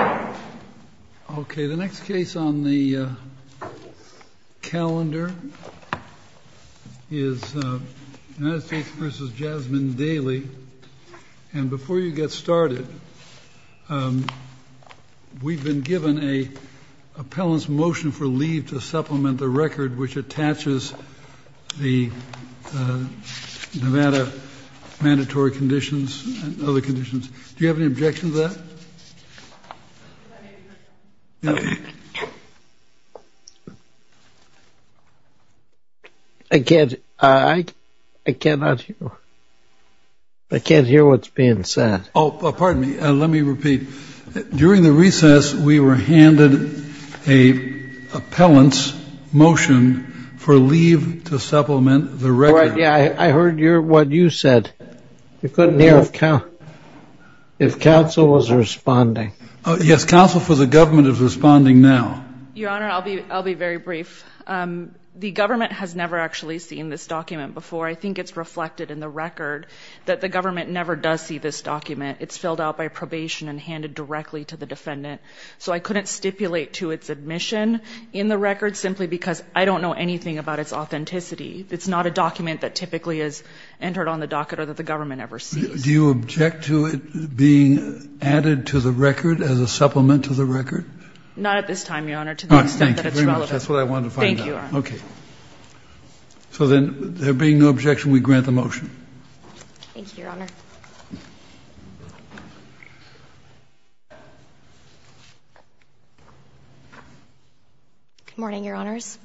Okay, the next case on the calendar is United States v. Jazzmin Dailey. And before you get started, we've been given an appellant's motion for leave to supplement the record which attaches the Nevada mandatory conditions and other conditions. Do you have any objection to that? I can't hear what's being said. Oh, pardon me. Let me repeat. During the recess, we were handed an appellant's motion for leave to supplement the record. Yeah, I heard what you said. You couldn't hear if counsel was responding. Yes, counsel for the government is responding now. Your Honor, I'll be very brief. The government has never actually seen this document before. I think it's reflected in the record that the government never does see this document. It's filled out by probation and handed directly to the defendant. So I couldn't stipulate to its admission in the record simply because I don't know anything about its authenticity. It's not a document that typically is entered on the docket or that the government ever sees. Do you object to it being added to the record as a supplement to the record? Not at this time, Your Honor, to the extent that it's relevant. Thank you very much. That's what I wanted to find out. Thank you, Your Honor. Okay. So then there being no objection, we grant the motion. Thank you, Your Honor. Good morning, Your Honors.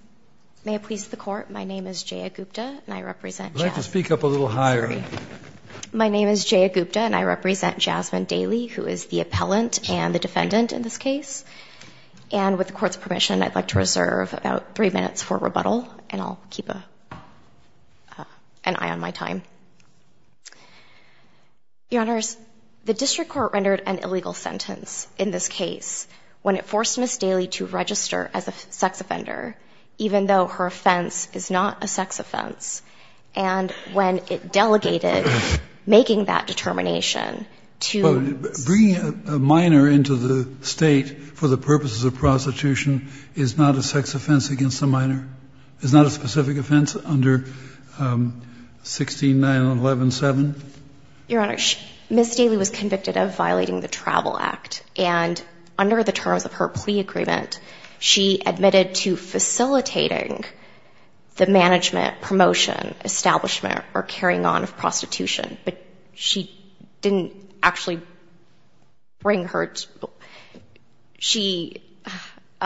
May it please the Court, my name is Jaya Gupta and I represent Jasmine Daly. I'd like to speak up a little higher. My name is Jaya Gupta and I represent Jasmine Daly, who is the appellant and the defendant in this case. And with the Court's permission, I'd like to reserve about three minutes for rebuttal and I'll keep an eye on my time. Your Honors, the district court rendered an illegal sentence in this case when it forced Ms. Daly to register as a sex offender, even though her offense is not a sex offense, and when it delegated making that determination to — But bringing a minor into the State for the purposes of prostitution is not a sex offense against a minor? Is not a specific offense under 16-911-7? Your Honor, Ms. Daly was convicted of violating the Travel Act, and under the terms of her plea agreement, she admitted to facilitating the management, promotion, establishment, or carrying on of prostitution. But she didn't actually bring her — she —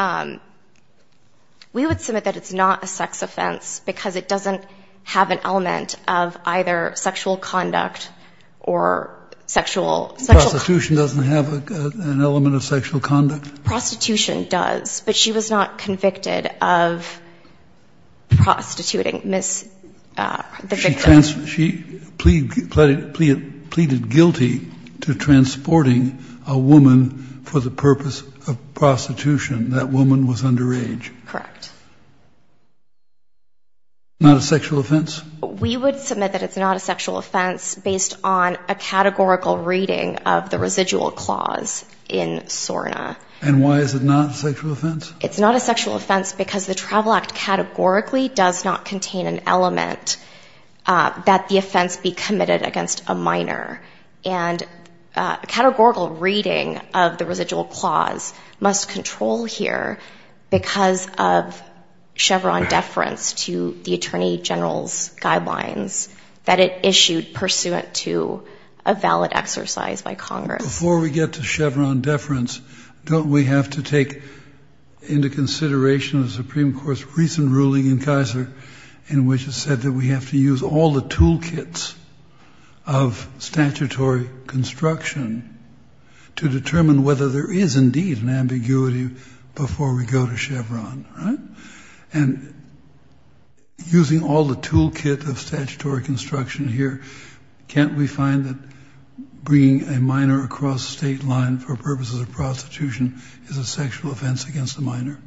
we would submit that it's not a sex offense because it doesn't have an element of either sexual conduct or sexual — Prostitution doesn't have an element of sexual conduct? Prostitution does, but she was not convicted of prostituting Ms. — the victim. She plead — pleaded guilty to transporting a woman for the purpose of prostitution. That woman was underage. Correct. Not a sexual offense? We would submit that it's not a sexual offense based on a categorical reading of the residual clause in SORNA. And why is it not a sexual offense? It's not a sexual offense because the Travel Act categorically does not contain an element that the offense be committed against a minor. And a categorical reading of the residual clause must control here because of Chevron deference to the Attorney General's guidelines that it issued pursuant to a valid exercise by Congress. Before we get to Chevron deference, don't we have to take into consideration the Supreme Court's recent ruling in Kaiser in which it said that we have to use all the toolkits of statutory construction to determine whether there is indeed an ambiguity before we go to Chevron, right? And using all the toolkit of statutory construction here, can't we find that bringing a minor across state line for purposes of prostitution is a sexual offense against a minor?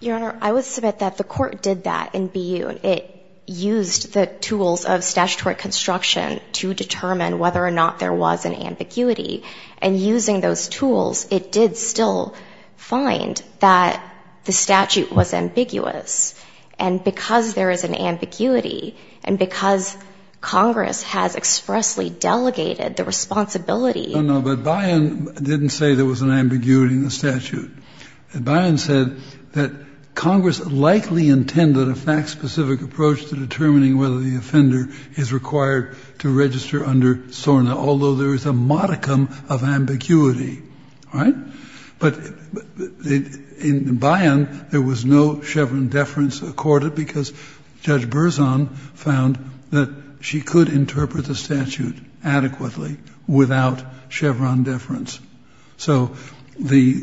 Your Honor, I would submit that the Court did that in B.U. It used the tools of statutory construction to determine whether or not there was an ambiguity. And using those tools, it did still find that the statute was ambiguous. And because there is an ambiguity and because Congress has expressly delegated the responsibility No, no, but Bayan didn't say there was an ambiguity in the statute. Bayan said that Congress likely intended a fact-specific approach to determining whether the offender is required to register under SORNA, although there is a modicum of ambiguity, all right? But in Bayan, there was no Chevron deference accorded because Judge Berzon found that she could interpret the statute adequately without Chevron deference. So the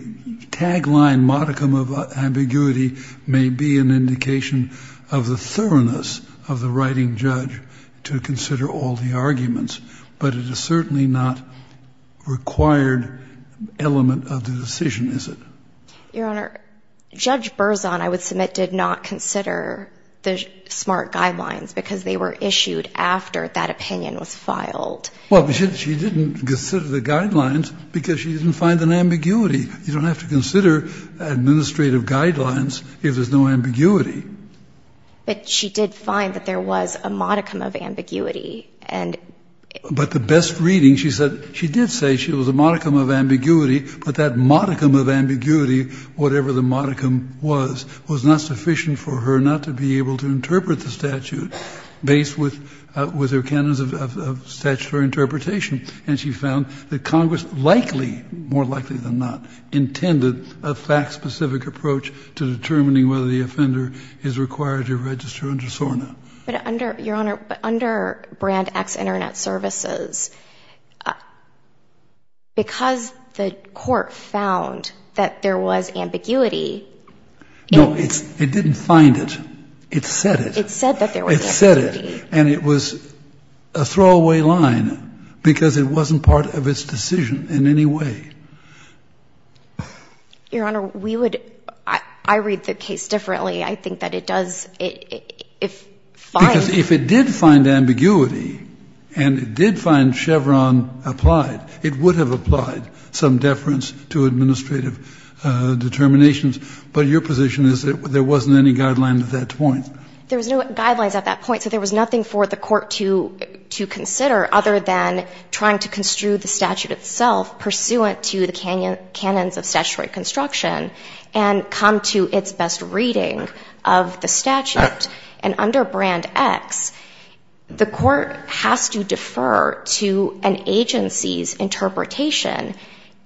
tagline, modicum of ambiguity, may be an indication of the thoroughness of the writing judge to consider all the arguments, but it is certainly not a required element of the decision, is it? Your Honor, Judge Berzon, I would submit, did not consider the SMART guidelines because they were issued after that opinion was filed. Well, she didn't consider the guidelines because she didn't find an ambiguity. You don't have to consider administrative guidelines if there's no ambiguity. But she did find that there was a modicum of ambiguity. But the best reading, she said, she did say there was a modicum of ambiguity, but that modicum of ambiguity, whatever the modicum was, was not sufficient for her not to be able to interpret the statute based with her canons of statutory interpretation. And she found that Congress likely, more likely than not, intended a fact-specific approach to determining whether the offender is required to register under SORNA. But under, Your Honor, but under Brand X Internet Services, because the court found that there was ambiguity. No, it didn't find it. It said it. It said that there was ambiguity. It said it. And it was a throwaway line because it wasn't part of its decision in any way. Your Honor, we would, I read the case differently. I think that it does, if fine. Because if it did find ambiguity and it did find Chevron applied, it would have applied some deference to administrative determinations. But your position is that there wasn't any guideline at that point. There was no guidelines at that point. So there was nothing for the court to consider other than trying to construe the statute itself pursuant to the canons of statutory construction and come to its best reading of the statute. And under Brand X, the court has to defer to an agency's interpretation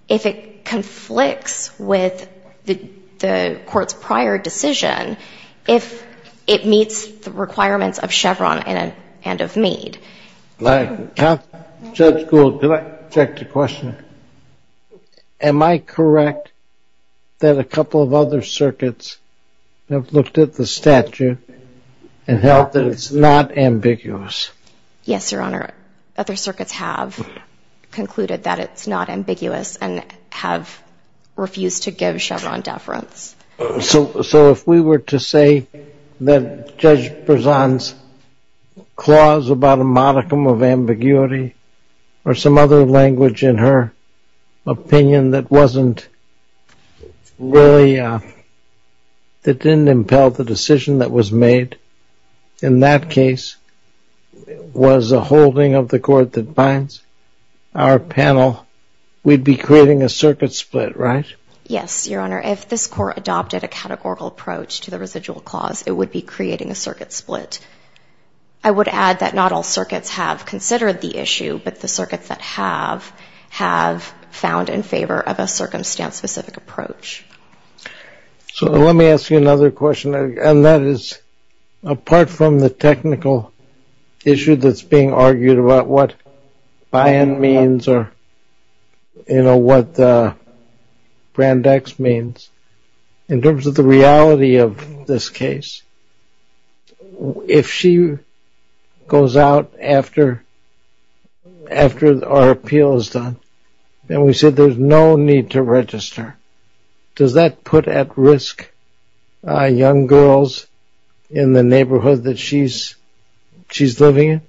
if it conflicts with the court's prior decision, if it meets the requirements of Chevron and of Meade. Judge Gould, can I interject a question? Am I correct that a couple of other circuits have looked at the statute and held that it's not ambiguous? Yes, your Honor. Other circuits have concluded that it's not ambiguous and have refused to give Chevron deference. So if we were to say that Judge Berzon's clause about a modicum of ambiguity or some other language in her opinion that didn't impel the decision that was made in that case was a holding of the court that binds our panel, we'd be creating a circuit split, right? Yes, your Honor. If this court adopted a categorical approach to the residual clause, it would be creating a circuit split. I would add that not all circuits have considered the issue, but the circuits that have have found in favor of a circumstance-specific approach. So let me ask you another question, and that is apart from the technical issue that's being argued about what buy-in means or what brand X means, in terms of the reality of this case, if she goes out after our appeal is done and we say there's no need to register, does that put at risk young girls in the neighborhood that she's living in?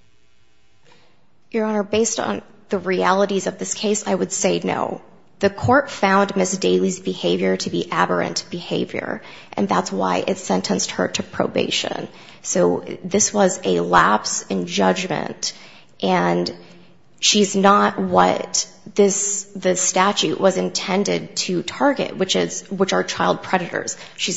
Your Honor, based on the realities of this case, I would say no. The court found Ms. Daly's behavior to be aberrant behavior, and that's why it sentenced her to probation. So this was a lapse in judgment, and she's not what the statute was intended to target, which are child predators. She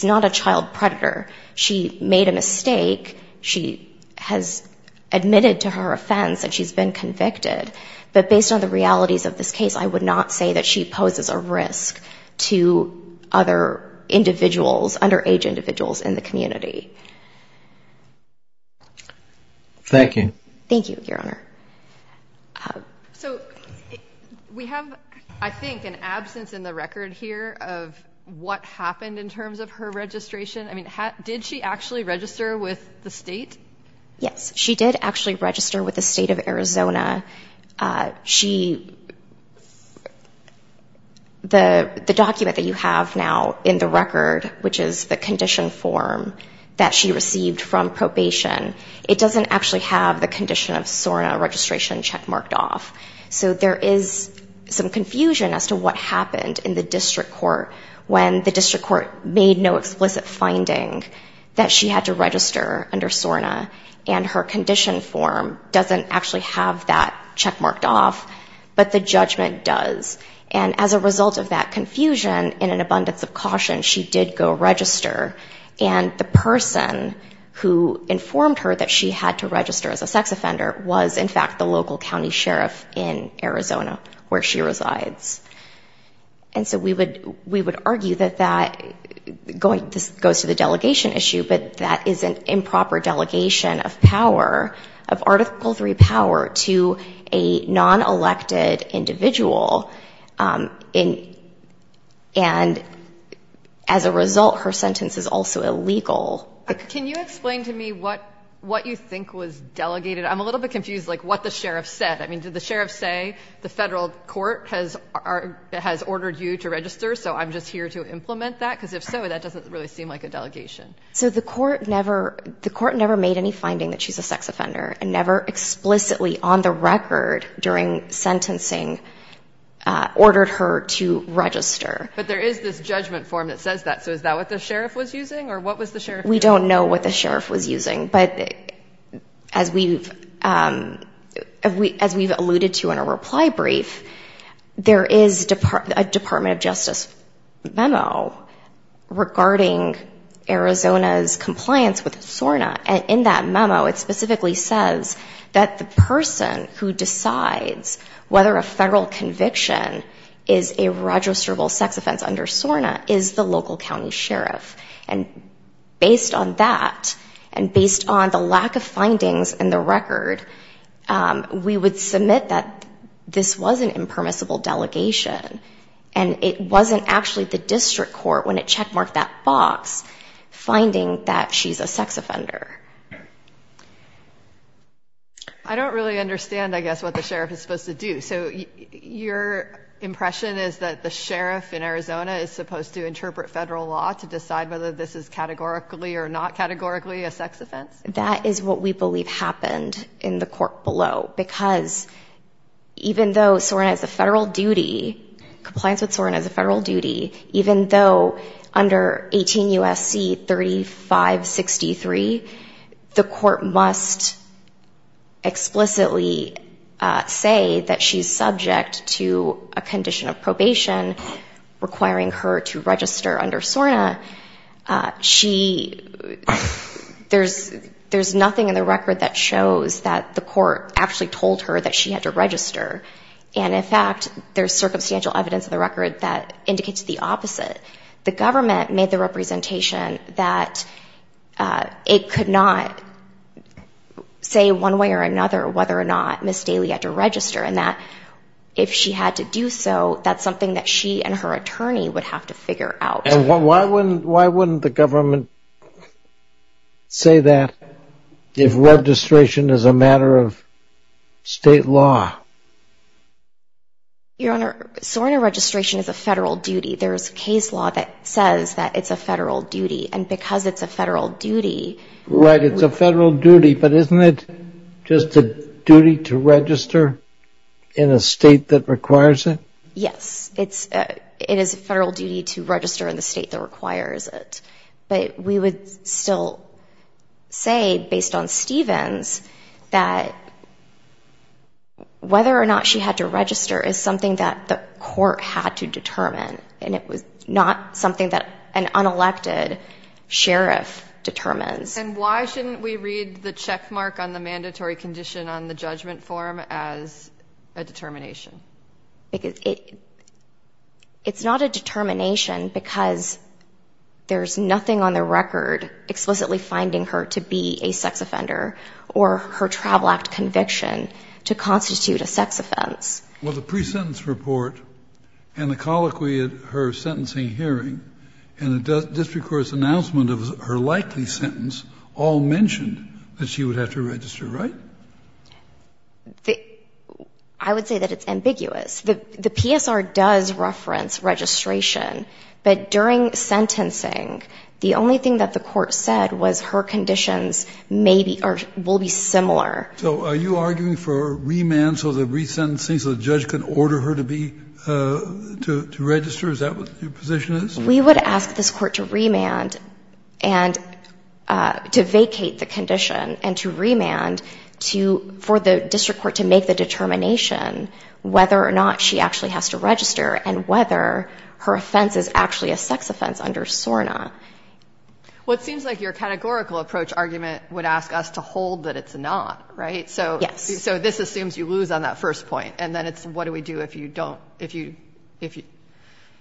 made a mistake. She has admitted to her offense that she's been convicted, but based on the realities of this case, I would not say that she poses a risk to other underage individuals in the community. Thank you. Thank you, Your Honor. So we have, I think, an absence in the record here of what happened in terms of her registration. I mean, did she actually register with the state? Yes. She did actually register with the state of Arizona. The document that you have now in the record, which is the condition form that she received from probation, it doesn't actually have the condition of SORNA registration check marked off. So there is some confusion as to what happened in the district court when the district court made no explicit finding that she had to register under SORNA, and her condition form doesn't actually have that check marked off, but the judgment does. And as a result of that confusion, in an abundance of caution, she did go register, and the person who informed her that she had to register as a sex offender was, in fact, the local county sheriff in Arizona, where she resides. And so we would argue that that goes to the delegation issue, but that is an improper delegation of power, of Article III power, to a non-elected individual. And as a result, her sentence is also illegal. Can you explain to me what you think was delegated? I'm a little bit confused, like, what the sheriff said. I mean, did the sheriff say, the federal court has ordered you to register, so I'm just here to implement that? Because if so, that doesn't really seem like a delegation. So the court never made any finding that she's a sex offender and never explicitly on the record during sentencing ordered her to register. But there is this judgment form that says that. So is that what the sheriff was using, or what was the sheriff doing? We don't know what the sheriff was using. But as we've alluded to in a reply brief, there is a Department of Justice memo regarding Arizona's compliance with SORNA. And in that memo, it specifically says that the person who decides whether a federal conviction is a registrable sex offense under SORNA is the local county sheriff. And based on that, and based on the lack of findings in the record, we would submit that this was an impermissible delegation. And it wasn't actually the district court when it checkmarked that box finding that she's a sex offender. I don't really understand, I guess, what the sheriff is supposed to do. So your impression is that the sheriff in Arizona is supposed to interpret federal law to decide whether this is categorically or not categorically a sex offense? That is what we believe happened in the court below. Because even though SORNA is a federal duty, compliance with SORNA is a federal duty, even though under 18 U.S.C. 3563, the court must explicitly say that she's subject to a condition of probation requiring her to register under SORNA. There's nothing in the record that shows that the court actually told her that she had to register. And, in fact, there's circumstantial evidence in the record that indicates the opposite. The government made the representation that it could not say one way or another whether or not Ms. Daly had to register, and that if she had to do so, that's something that she and her attorney would have to figure out. And why wouldn't the government say that if registration is a matter of state law? Your Honor, SORNA registration is a federal duty. There's a case law that says that it's a federal duty, and because it's a federal duty... Right, it's a federal duty, but isn't it just a duty to register in a state that requires it? Yes, it is a federal duty to register in the state that requires it. But we would still say, based on Stevens, that whether or not she had to register is something that the court had to determine, and it was not something that an unelected sheriff determines. And why shouldn't we read the checkmark on the mandatory condition on the judgment form as a determination? Because it's not a determination because there's nothing on the record explicitly finding her to be a sex offender or her travel act conviction to constitute a sex offense. Well, the pre-sentence report and the colloquy at her sentencing hearing and the district court's announcement of her likely sentence all mentioned that she would have to register, right? I would say that it's ambiguous. The PSR does reference registration, but during sentencing, the only thing that the court said was her conditions may be or will be similar. So are you arguing for remand so the resentencing, so the judge can order her to be, to register? Is that what your position is? We would ask this court to remand and to vacate the condition and to remand for the district court to make the determination whether or not she actually has to register and whether her offense is actually a sex offense under SORNA. Well, it seems like your categorical approach argument would ask us to hold that it's not, right? Yes. So this assumes you lose on that first point, and then it's what do we do if you don't, if you, if you,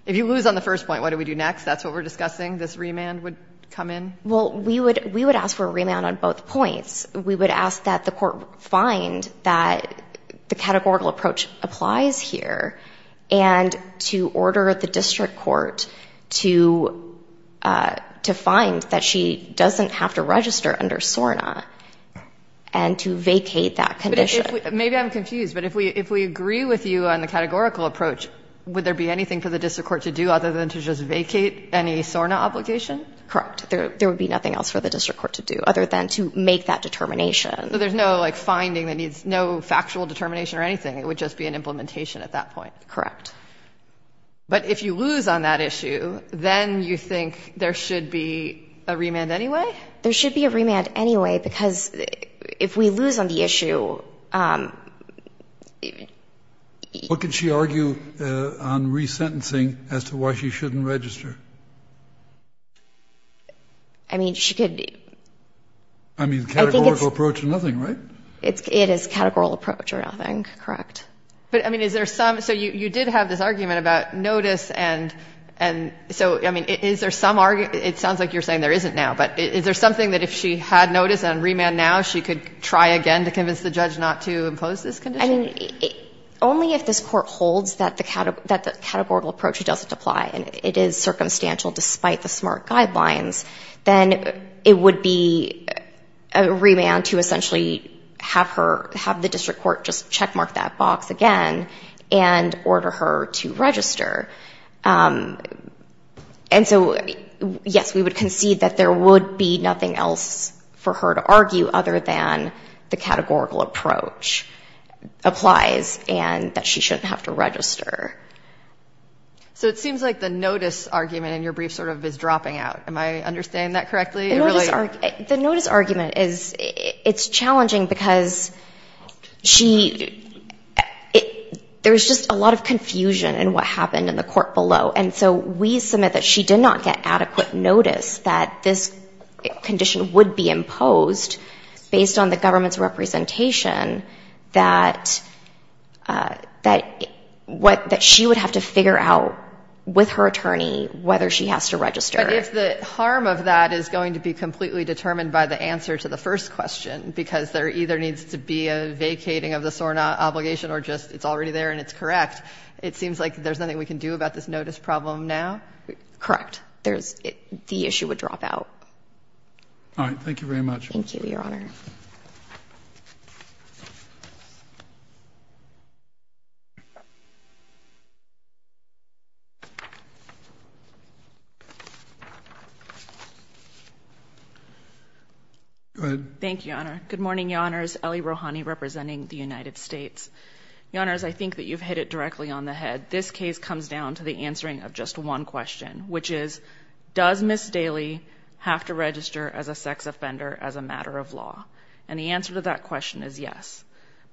if you lose on the first point, what do we do next? That's what we're discussing, this remand would come in? Well, we would, we would ask for a remand on both points. We would ask that the court find that the categorical approach applies here and to order the district court to, to find that she doesn't have to register under SORNA and to vacate that condition. Maybe I'm confused, but if we, if we agree with you on the categorical approach, would there be anything for the district court to do other than to just vacate any SORNA obligation? Correct. There, there would be nothing else for the district court to do other than to make that determination. So there's no, like, finding that needs no factual determination or anything. It would just be an implementation at that point. Correct. But if you lose on that issue, then you think there should be a remand anyway? There should be a remand anyway because if we lose on the issue, What could she argue on resentencing as to why she shouldn't register? I mean, she could. I mean, categorical approach or nothing, right? It is categorical approach or nothing. Correct. But, I mean, is there some, so you, you did have this argument about notice and, and so, I mean, is there some, it sounds like you're saying there isn't now, but is there something that if she had notice and remand now she could try again to convince the judge not to impose this condition? I mean, only if this court holds that the categorical approach doesn't apply and it is circumstantial despite the SMART guidelines, then it would be a remand to essentially have her, have the district court just checkmark that box again and order her to register. And so, yes, we would concede that there would be nothing else for her to argue other than the categorical approach applies and that she shouldn't have to register. So it seems like the notice argument in your brief sort of is dropping out. Am I understanding that correctly? The notice argument is, it's challenging because she, there's just a lot of confusion in what happened in the court below. And so we submit that she did not get adequate notice that this condition would be imposed based on the government's representation that, that what, that she would have to figure out with her attorney whether she has to register. But if the harm of that is going to be completely determined by the answer to the first question because there either needs to be a vacating of the SORNA obligation or just it's already there and it's correct, it seems like there's nothing we can do about this notice problem now. Correct. There's, the issue would drop out. All right. Thank you very much. Thank you, Your Honor. Go ahead. Thank you, Your Honor. Good morning, Your Honors. Ellie Rohani representing the United States. Your Honors, I think that you've hit it directly on the head. This case comes down to the answering of just one question, which is does Ms. Daly have to register as a sex offender as a matter of law? And the answer to that question is yes.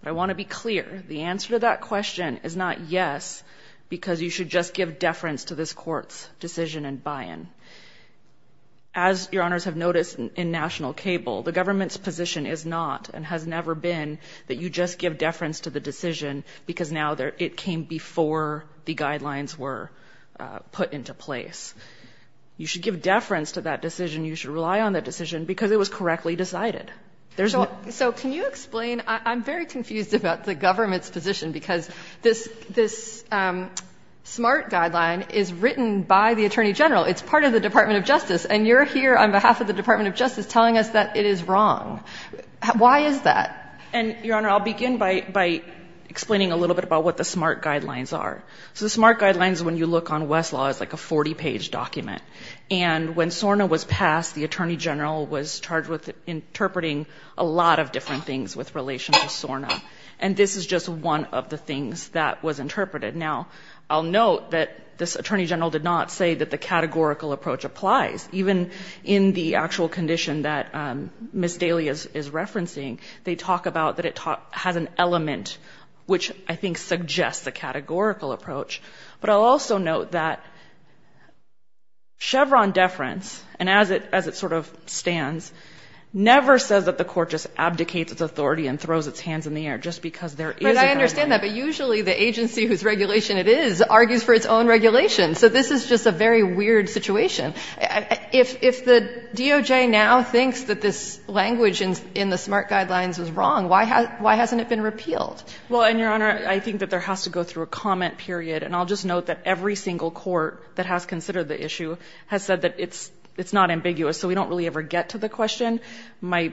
But I want to be clear, the answer to that question is not yes because you should just give deference to this court's decision and buy-in. As Your Honors have noticed in national cable, the government's position is not and has never been that you just give deference to the decision because now it came before the guidelines were put into place. You should give deference to that decision. You should rely on that decision because it was correctly decided. So can you explain, I'm very confused about the government's position because this SMART guideline is written by the Attorney General. It's part of the Department of Justice. And you're here on behalf of the Department of Justice telling us that it is wrong. Why is that? And, Your Honor, I'll begin by explaining a little bit about what the SMART guidelines are. So the SMART guidelines, when you look on Westlaw, is like a 40-page document. And when SORNA was passed, the Attorney General was charged with interpreting a lot of different things with relation to SORNA. And this is just one of the things that was interpreted. Now, I'll note that this Attorney General did not say that the categorical approach applies. Even in the actual condition that Ms. Daly is referencing, they talk about that it has an element which I think suggests a categorical approach. But I'll also note that Chevron deference, and as it sort of stands, never says that the court just abdicates its authority and throws its hands in the air just because there is a guideline. But I understand that. But usually the agency whose regulation it is argues for its own regulation. So this is just a very weird situation. If the DOJ now thinks that this language in the SMART guidelines is wrong, why hasn't it been repealed? Well, and, Your Honor, I think that there has to go through a comment period. And I'll just note that every single court that has considered the issue has said that it's not ambiguous. So we don't really ever get to the question. I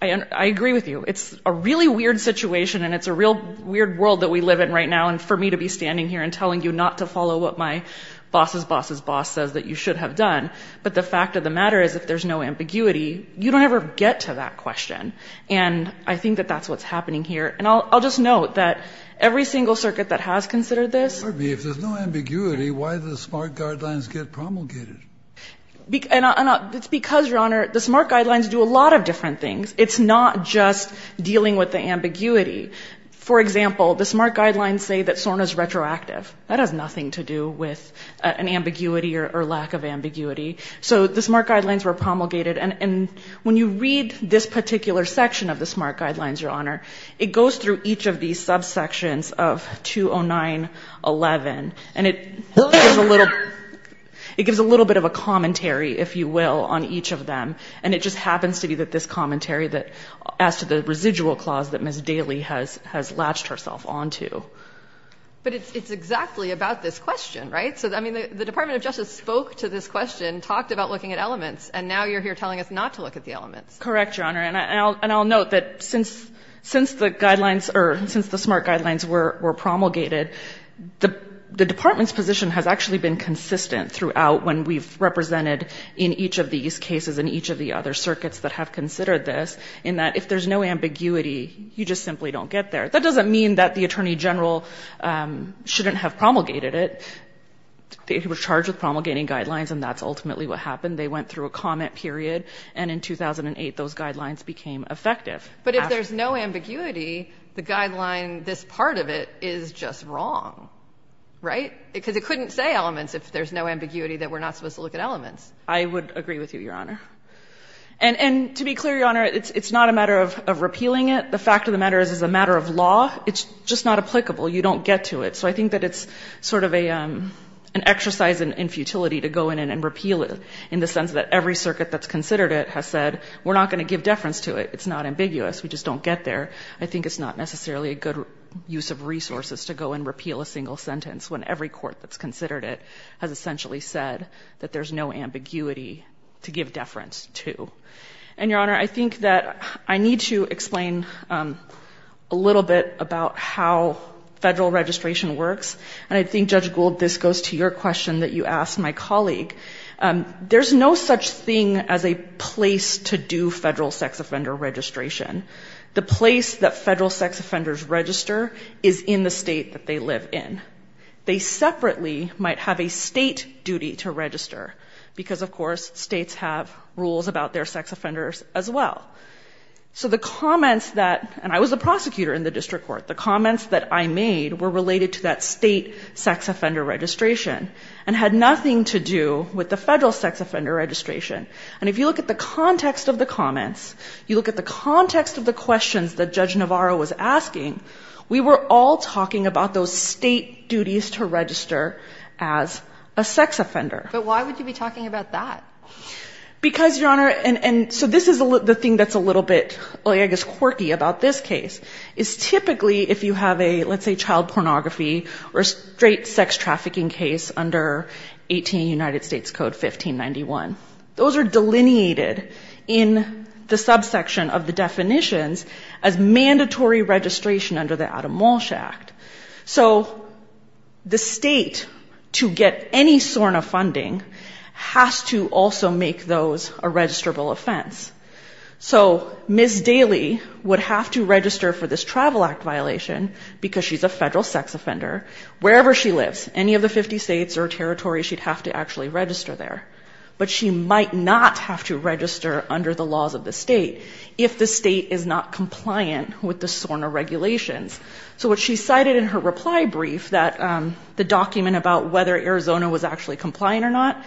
agree with you. It's a really weird situation, and it's a real weird world that we live in right now, and for me to be standing here and telling you not to follow what my boss's boss's boss says that you should have done. But the fact of the matter is, if there's no ambiguity, you don't ever get to that question. And I think that that's what's happening here. And I'll just note that every single circuit that has considered this. Pardon me. If there's no ambiguity, why do the SMART guidelines get promulgated? It's because, Your Honor, the SMART guidelines do a lot of different things. It's not just dealing with the ambiguity. For example, the SMART guidelines say that SORNA is retroactive. That has nothing to do with an ambiguity or lack of ambiguity. So the SMART guidelines were promulgated. And when you read this particular section of the SMART guidelines, Your Honor, it goes through each of these subsections of 209-11, and it gives a little bit of a commentary, if you will, on each of them. And it just happens to be that this commentary that adds to the residual clause that Ms. Daly has latched herself onto. But it's exactly about this question, right? So, I mean, the Department of Justice spoke to this question, talked about looking at elements, and now you're here telling us not to look at the elements. Correct, Your Honor. And I'll note that since the guidelines or since the SMART guidelines were promulgated, the Department's position has actually been consistent throughout when we've represented, in each of these cases and each of the other circuits that have considered this, in that if there's no ambiguity, you just simply don't get there. That doesn't mean that the Attorney General shouldn't have promulgated it. He was charged with promulgating guidelines, and that's ultimately what happened. They went through a comment period, and in 2008, those guidelines became effective. But if there's no ambiguity, the guideline, this part of it, is just wrong, right? Because it couldn't say elements if there's no ambiguity that we're not supposed to look at elements. I would agree with you, Your Honor. And to be clear, Your Honor, it's not a matter of repealing it. The fact of the matter is it's a matter of law. It's just not applicable. You don't get to it. So I think that it's sort of an exercise in futility to go in and repeal it, in the sense that every circuit that's considered it has said we're not going to give deference to it. It's not ambiguous. We just don't get there. I think it's not necessarily a good use of resources to go and repeal a single sentence when every court that's considered it has essentially said that there's no ambiguity to give deference to. And, Your Honor, I think that I need to explain a little bit about how federal registration works. And I think, Judge Gould, this goes to your question that you asked my colleague. There's no such thing as a place to do federal sex offender registration. The place that federal sex offenders register is in the state that they live in. They separately might have a state duty to register because, of course, states have rules about their sex offenders as well. So the comments that, and I was a prosecutor in the district court, the comments that I made were related to that state sex offender registration and had nothing to do with the federal sex offender registration. And if you look at the context of the comments, you look at the context of the questions that Judge Navarro was asking, we were all talking about those state duties to register as a sex offender. But why would you be talking about that? Because, Your Honor, and so this is the thing that's a little bit, I guess, quirky about this case, is typically if you have a, let's say, child pornography or straight sex trafficking case under 18 United States Code 1591, those are delineated in the subsection of the definitions as mandatory registration under the Adam Walsh Act. So the state, to get any SORNA funding, has to also make those a registrable offense. So Ms. Daly would have to register for this Travel Act violation, because she's a federal sex offender, wherever she lives, any of the 50 states or territories, she'd have to actually register there. But she might not have to register under the laws of the state if the state is not compliant with the SORNA regulations. So what she cited in her reply brief, the document about whether Arizona was actually compliant or not,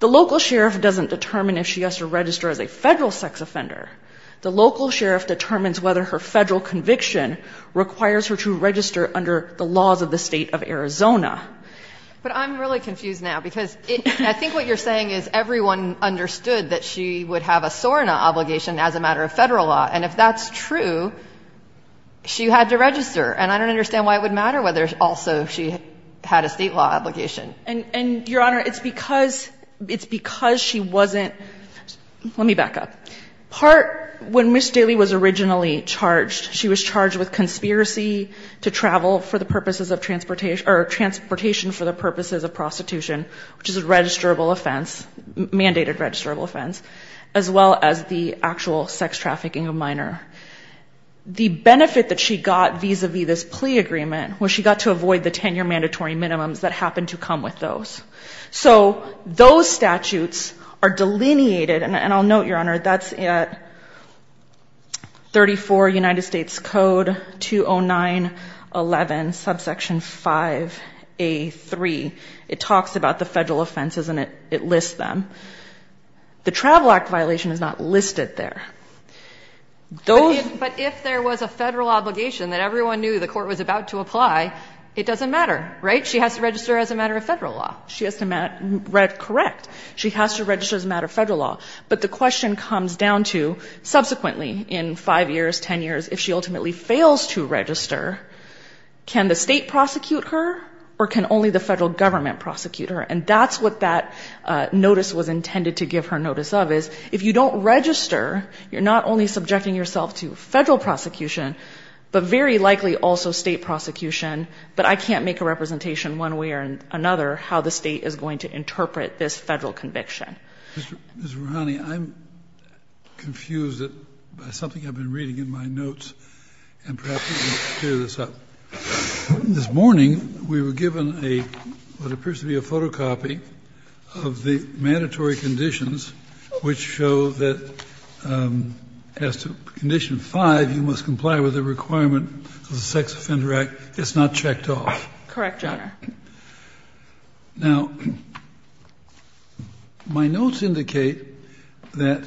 the local sheriff doesn't determine if she has to register as a federal sex offender. The local sheriff determines whether her federal conviction requires her to register under the laws of the state of Arizona. But I'm really confused now, because I think what you're saying is everyone understood that she would have a SORNA obligation as a matter of federal law. And if that's true, she had to register. And I don't understand why it would matter whether also she had a state law obligation. And, Your Honor, it's because she wasn't, let me back up. Part, when Ms. Daly was originally charged, she was charged with conspiracy to travel for the purposes of transportation or transportation for the purposes of prostitution, which is a registrable offense, mandated registrable offense, as well as the actual sex trafficking of minor. The benefit that she got vis-a-vis this plea agreement was she got to avoid the 10-year mandatory minimums that happened to come with those. So those statutes are delineated, and I'll note, Your Honor, that's at 34 United States Code 20911, subsection 5A3. It talks about the federal offenses, and it lists them. The Travel Act violation is not listed there. But if there was a federal obligation that everyone knew the court was about to apply, it doesn't matter, right? She has to register as a matter of federal law. She has to register as a matter of federal law. But the question comes down to, subsequently, in 5 years, 10 years, if she ultimately fails to register, can the state prosecute her or can only the federal government prosecute her? And that's what that notice was intended to give her notice of, is if you don't register, you're not only subjecting yourself to federal prosecution, but very likely also state prosecution. But I can't make a representation one way or another how the state is going to interpret this federal conviction. Mr. Verrani, I'm confused by something I've been reading in my notes, and perhaps you can clear this up. This morning, we were given what appears to be a photocopy of the mandatory conditions, which show that as to Condition 5, you must comply with the requirement of the Sex Offender Act. It's not checked off. Correct, Your Honor. Now, my notes indicate that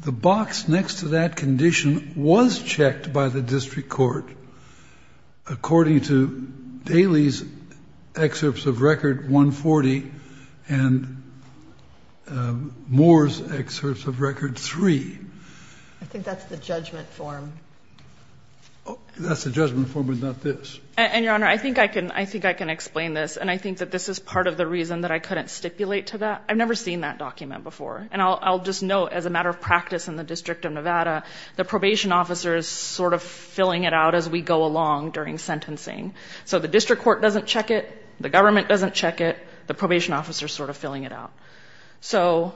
the box next to that condition was checked by the district court, according to Daly's excerpts of Record 140 and Moore's excerpts of Record 3. I think that's the judgment form. That's the judgment form, but not this. And, Your Honor, I think I can explain this. And I think that this is part of the reason that I couldn't stipulate to that. I've never seen that document before. And I'll just note, as a matter of practice in the District of Nevada, the probation officer is sort of filling it out as we go along during sentencing. So the district court doesn't check it. The government doesn't check it. The probation officer is sort of filling it out. So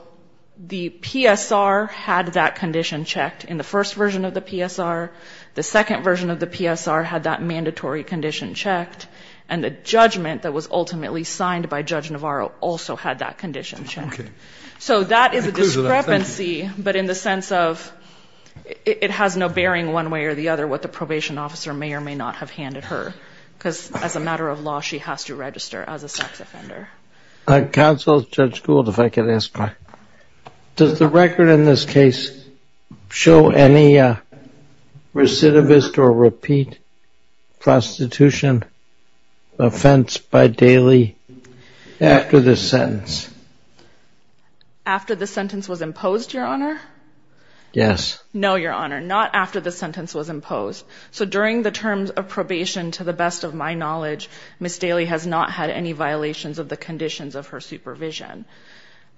the PSR had that condition checked in the first version of the PSR. The second version of the PSR had that mandatory condition checked. And the judgment that was ultimately signed by Judge Navarro also had that condition checked. Okay. So that is a discrepancy, but in the sense of it has no bearing one way or the other what the probation officer may or may not have handed her, because as a matter of law she has to register as a sex offender. Counsel, Judge Gould, if I could ask my question. Does the record in this case show any recidivist or repeat prostitution offense by Daly after the sentence? After the sentence was imposed, Your Honor? Yes. No, Your Honor, not after the sentence was imposed. So during the terms of probation, to the best of my knowledge, Ms. Daly has not had any violations of the conditions of her supervision.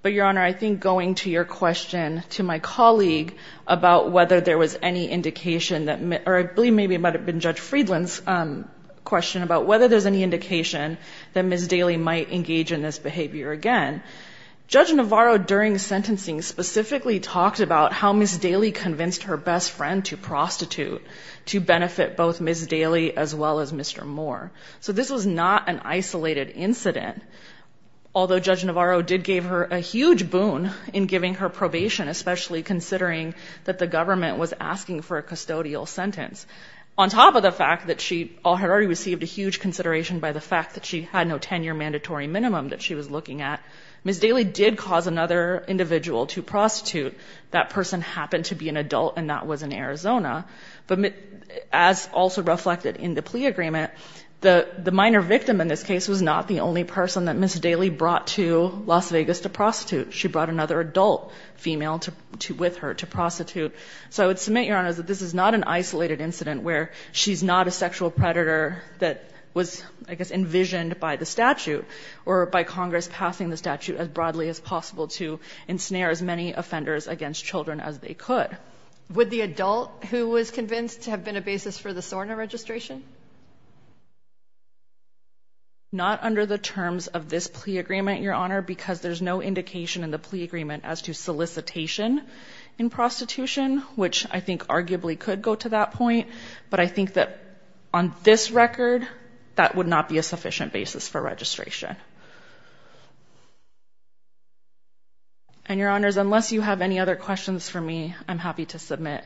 But, Your Honor, I think going to your question to my colleague about whether there was any indication that Ms. Or I believe maybe it might have been Judge Friedland's question about whether there's any indication that Ms. Daly might engage in this behavior again. Judge Navarro during sentencing specifically talked about how Ms. Daly convinced her best friend to prostitute to benefit both Ms. Daly as well as Mr. Moore. So this was not an isolated incident. Although Judge Navarro did give her a huge boon in giving her probation, especially considering that the government was asking for a custodial sentence. On top of the fact that she had already received a huge consideration by the fact that she had no tenure mandatory minimum that she was looking at, Ms. Daly did cause another individual to prostitute. That person happened to be an adult, and that was in Arizona. But as also reflected in the plea agreement, the minor victim in this case was not the only person that Ms. Daly brought to Las Vegas to prostitute. She brought another adult female with her to prostitute. So I would submit, Your Honor, that this is not an isolated incident where she's not a sexual predator that was, I guess, envisioned by the statute or by Congress passing the statute as broadly as possible to ensnare as many offenders against children as they could. Would the adult who was convinced have been a basis for the SORNA registration? Not under the terms of this plea agreement, Your Honor, because there's no indication in the plea agreement as to solicitation in prostitution, which I think arguably could go to that point. But I think that on this record, that would not be a sufficient basis for registration. And, Your Honors, unless you have any other questions for me, I'm happy to submit.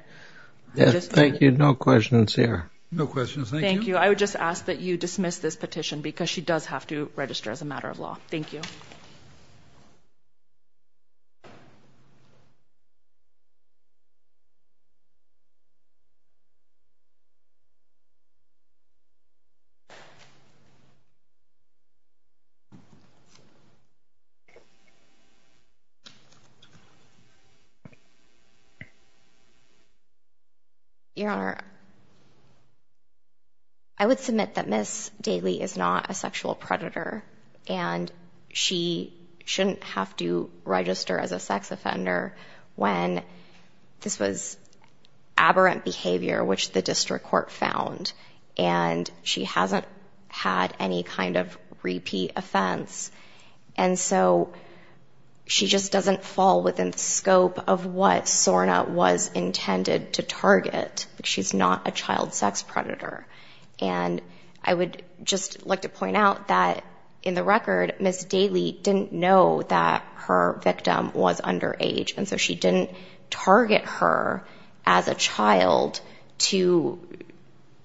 Yes, thank you. No questions here. No questions. Thank you. Thank you. I would just ask that you dismiss this petition because she does have to register as a matter of law. Thank you. Your Honor, I would submit that Ms. Daly is not a sexual predator, and she shouldn't have to register as a sex offender when this was aberrant behavior, which the district court found, and she hasn't had any kind of repeat offense. And so she just doesn't fall within the scope of what SORNA was intended to target. She's not a child sex predator. And I would just like to point out that, in the record, Ms. Daly didn't know that her victim was underage, and so she didn't target her as a child to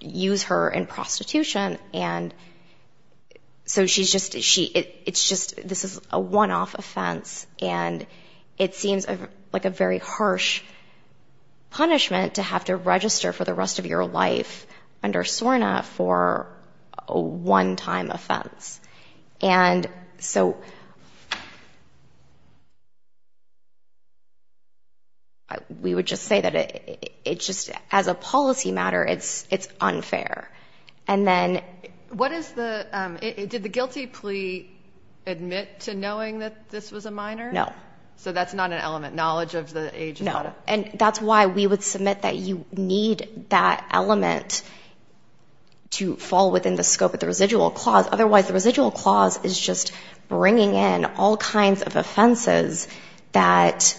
use her in prostitution. And so this is a one-off offense, and it seems like a very harsh punishment to have to register for the rest of your life under SORNA for a one-time offense. And so we would just say that, as a policy matter, it's unfair. Did the guilty plea admit to knowing that this was a minor? No. So that's not an element. Knowledge of the age is not a... No, and that's why we would submit that you need that element to fall within the scope of the residual clause. Otherwise, the residual clause is just bringing in all kinds of offenses that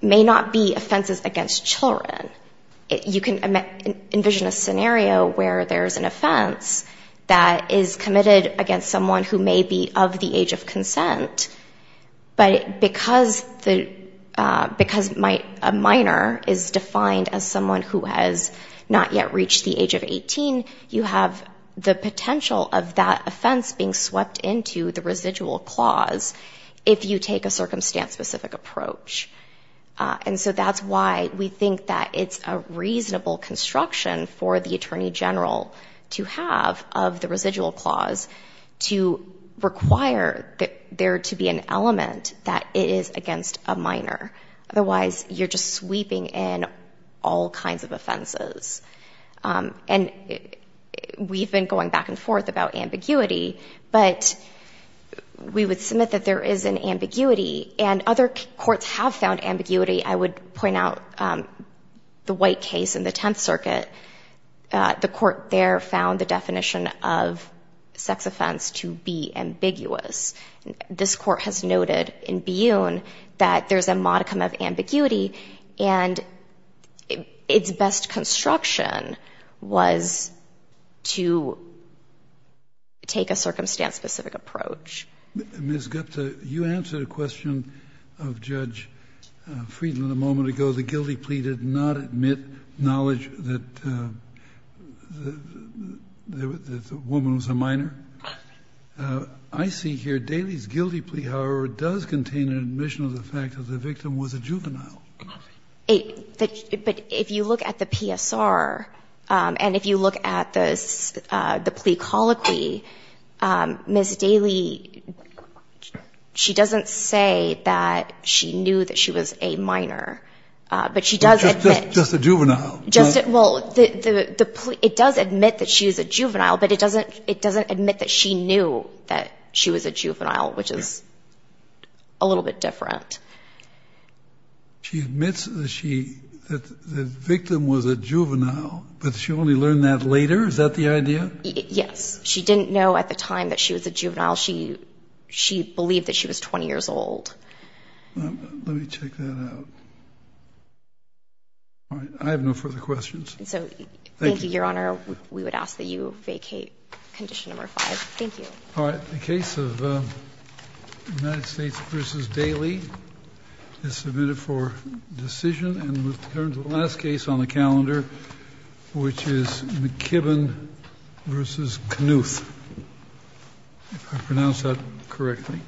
may not be offenses against children. You can envision a scenario where there's an offense that is committed against someone who may be of the age of consent, but because a minor is defined as someone who has not yet reached the age of 18, you have the potential of that offense being swept into the residual clause if you take a circumstance-specific approach. And so that's why we think that it's a reasonable construction for the attorney general to have of the residual clause to require there to be an element that is against a minor. Otherwise, you're just sweeping in all kinds of offenses. And we've been going back and forth about ambiguity, but we would submit that there is an ambiguity, and other courts have found ambiguity. I would point out the White case in the Tenth Circuit. The court there found the definition of sex offense to be ambiguous. This court has noted in Buhn that there's a modicum of ambiguity, and its best construction was to take a circumstance-specific approach. Ms. Gupta, you answered a question of Judge Friedland a moment ago. The guilty plea did not admit knowledge that the woman was a minor. I see here Daly's guilty plea, however, does contain an admission of the fact that the victim was a juvenile. But if you look at the PSR, and if you look at the plea colloquy, Ms. Daly, she doesn't say that she knew that she was a minor, but she does admit... Just a juvenile. Well, it does admit that she was a juvenile, but it doesn't admit that she knew that she was a juvenile, which is a little bit different. She admits that the victim was a juvenile, but she only learned that later? Is that the idea? Yes. She didn't know at the time that she was a juvenile. She believed that she was 20 years old. Let me check that out. All right. I have no further questions. Thank you, Your Honor. We would ask that you vacate Condition No. 5. Thank you. All right. The case of United States v. Daly is submitted for decision. And we'll turn to the last case on the calendar, which is McKibbin v. Knuth, if I pronounced that correctly.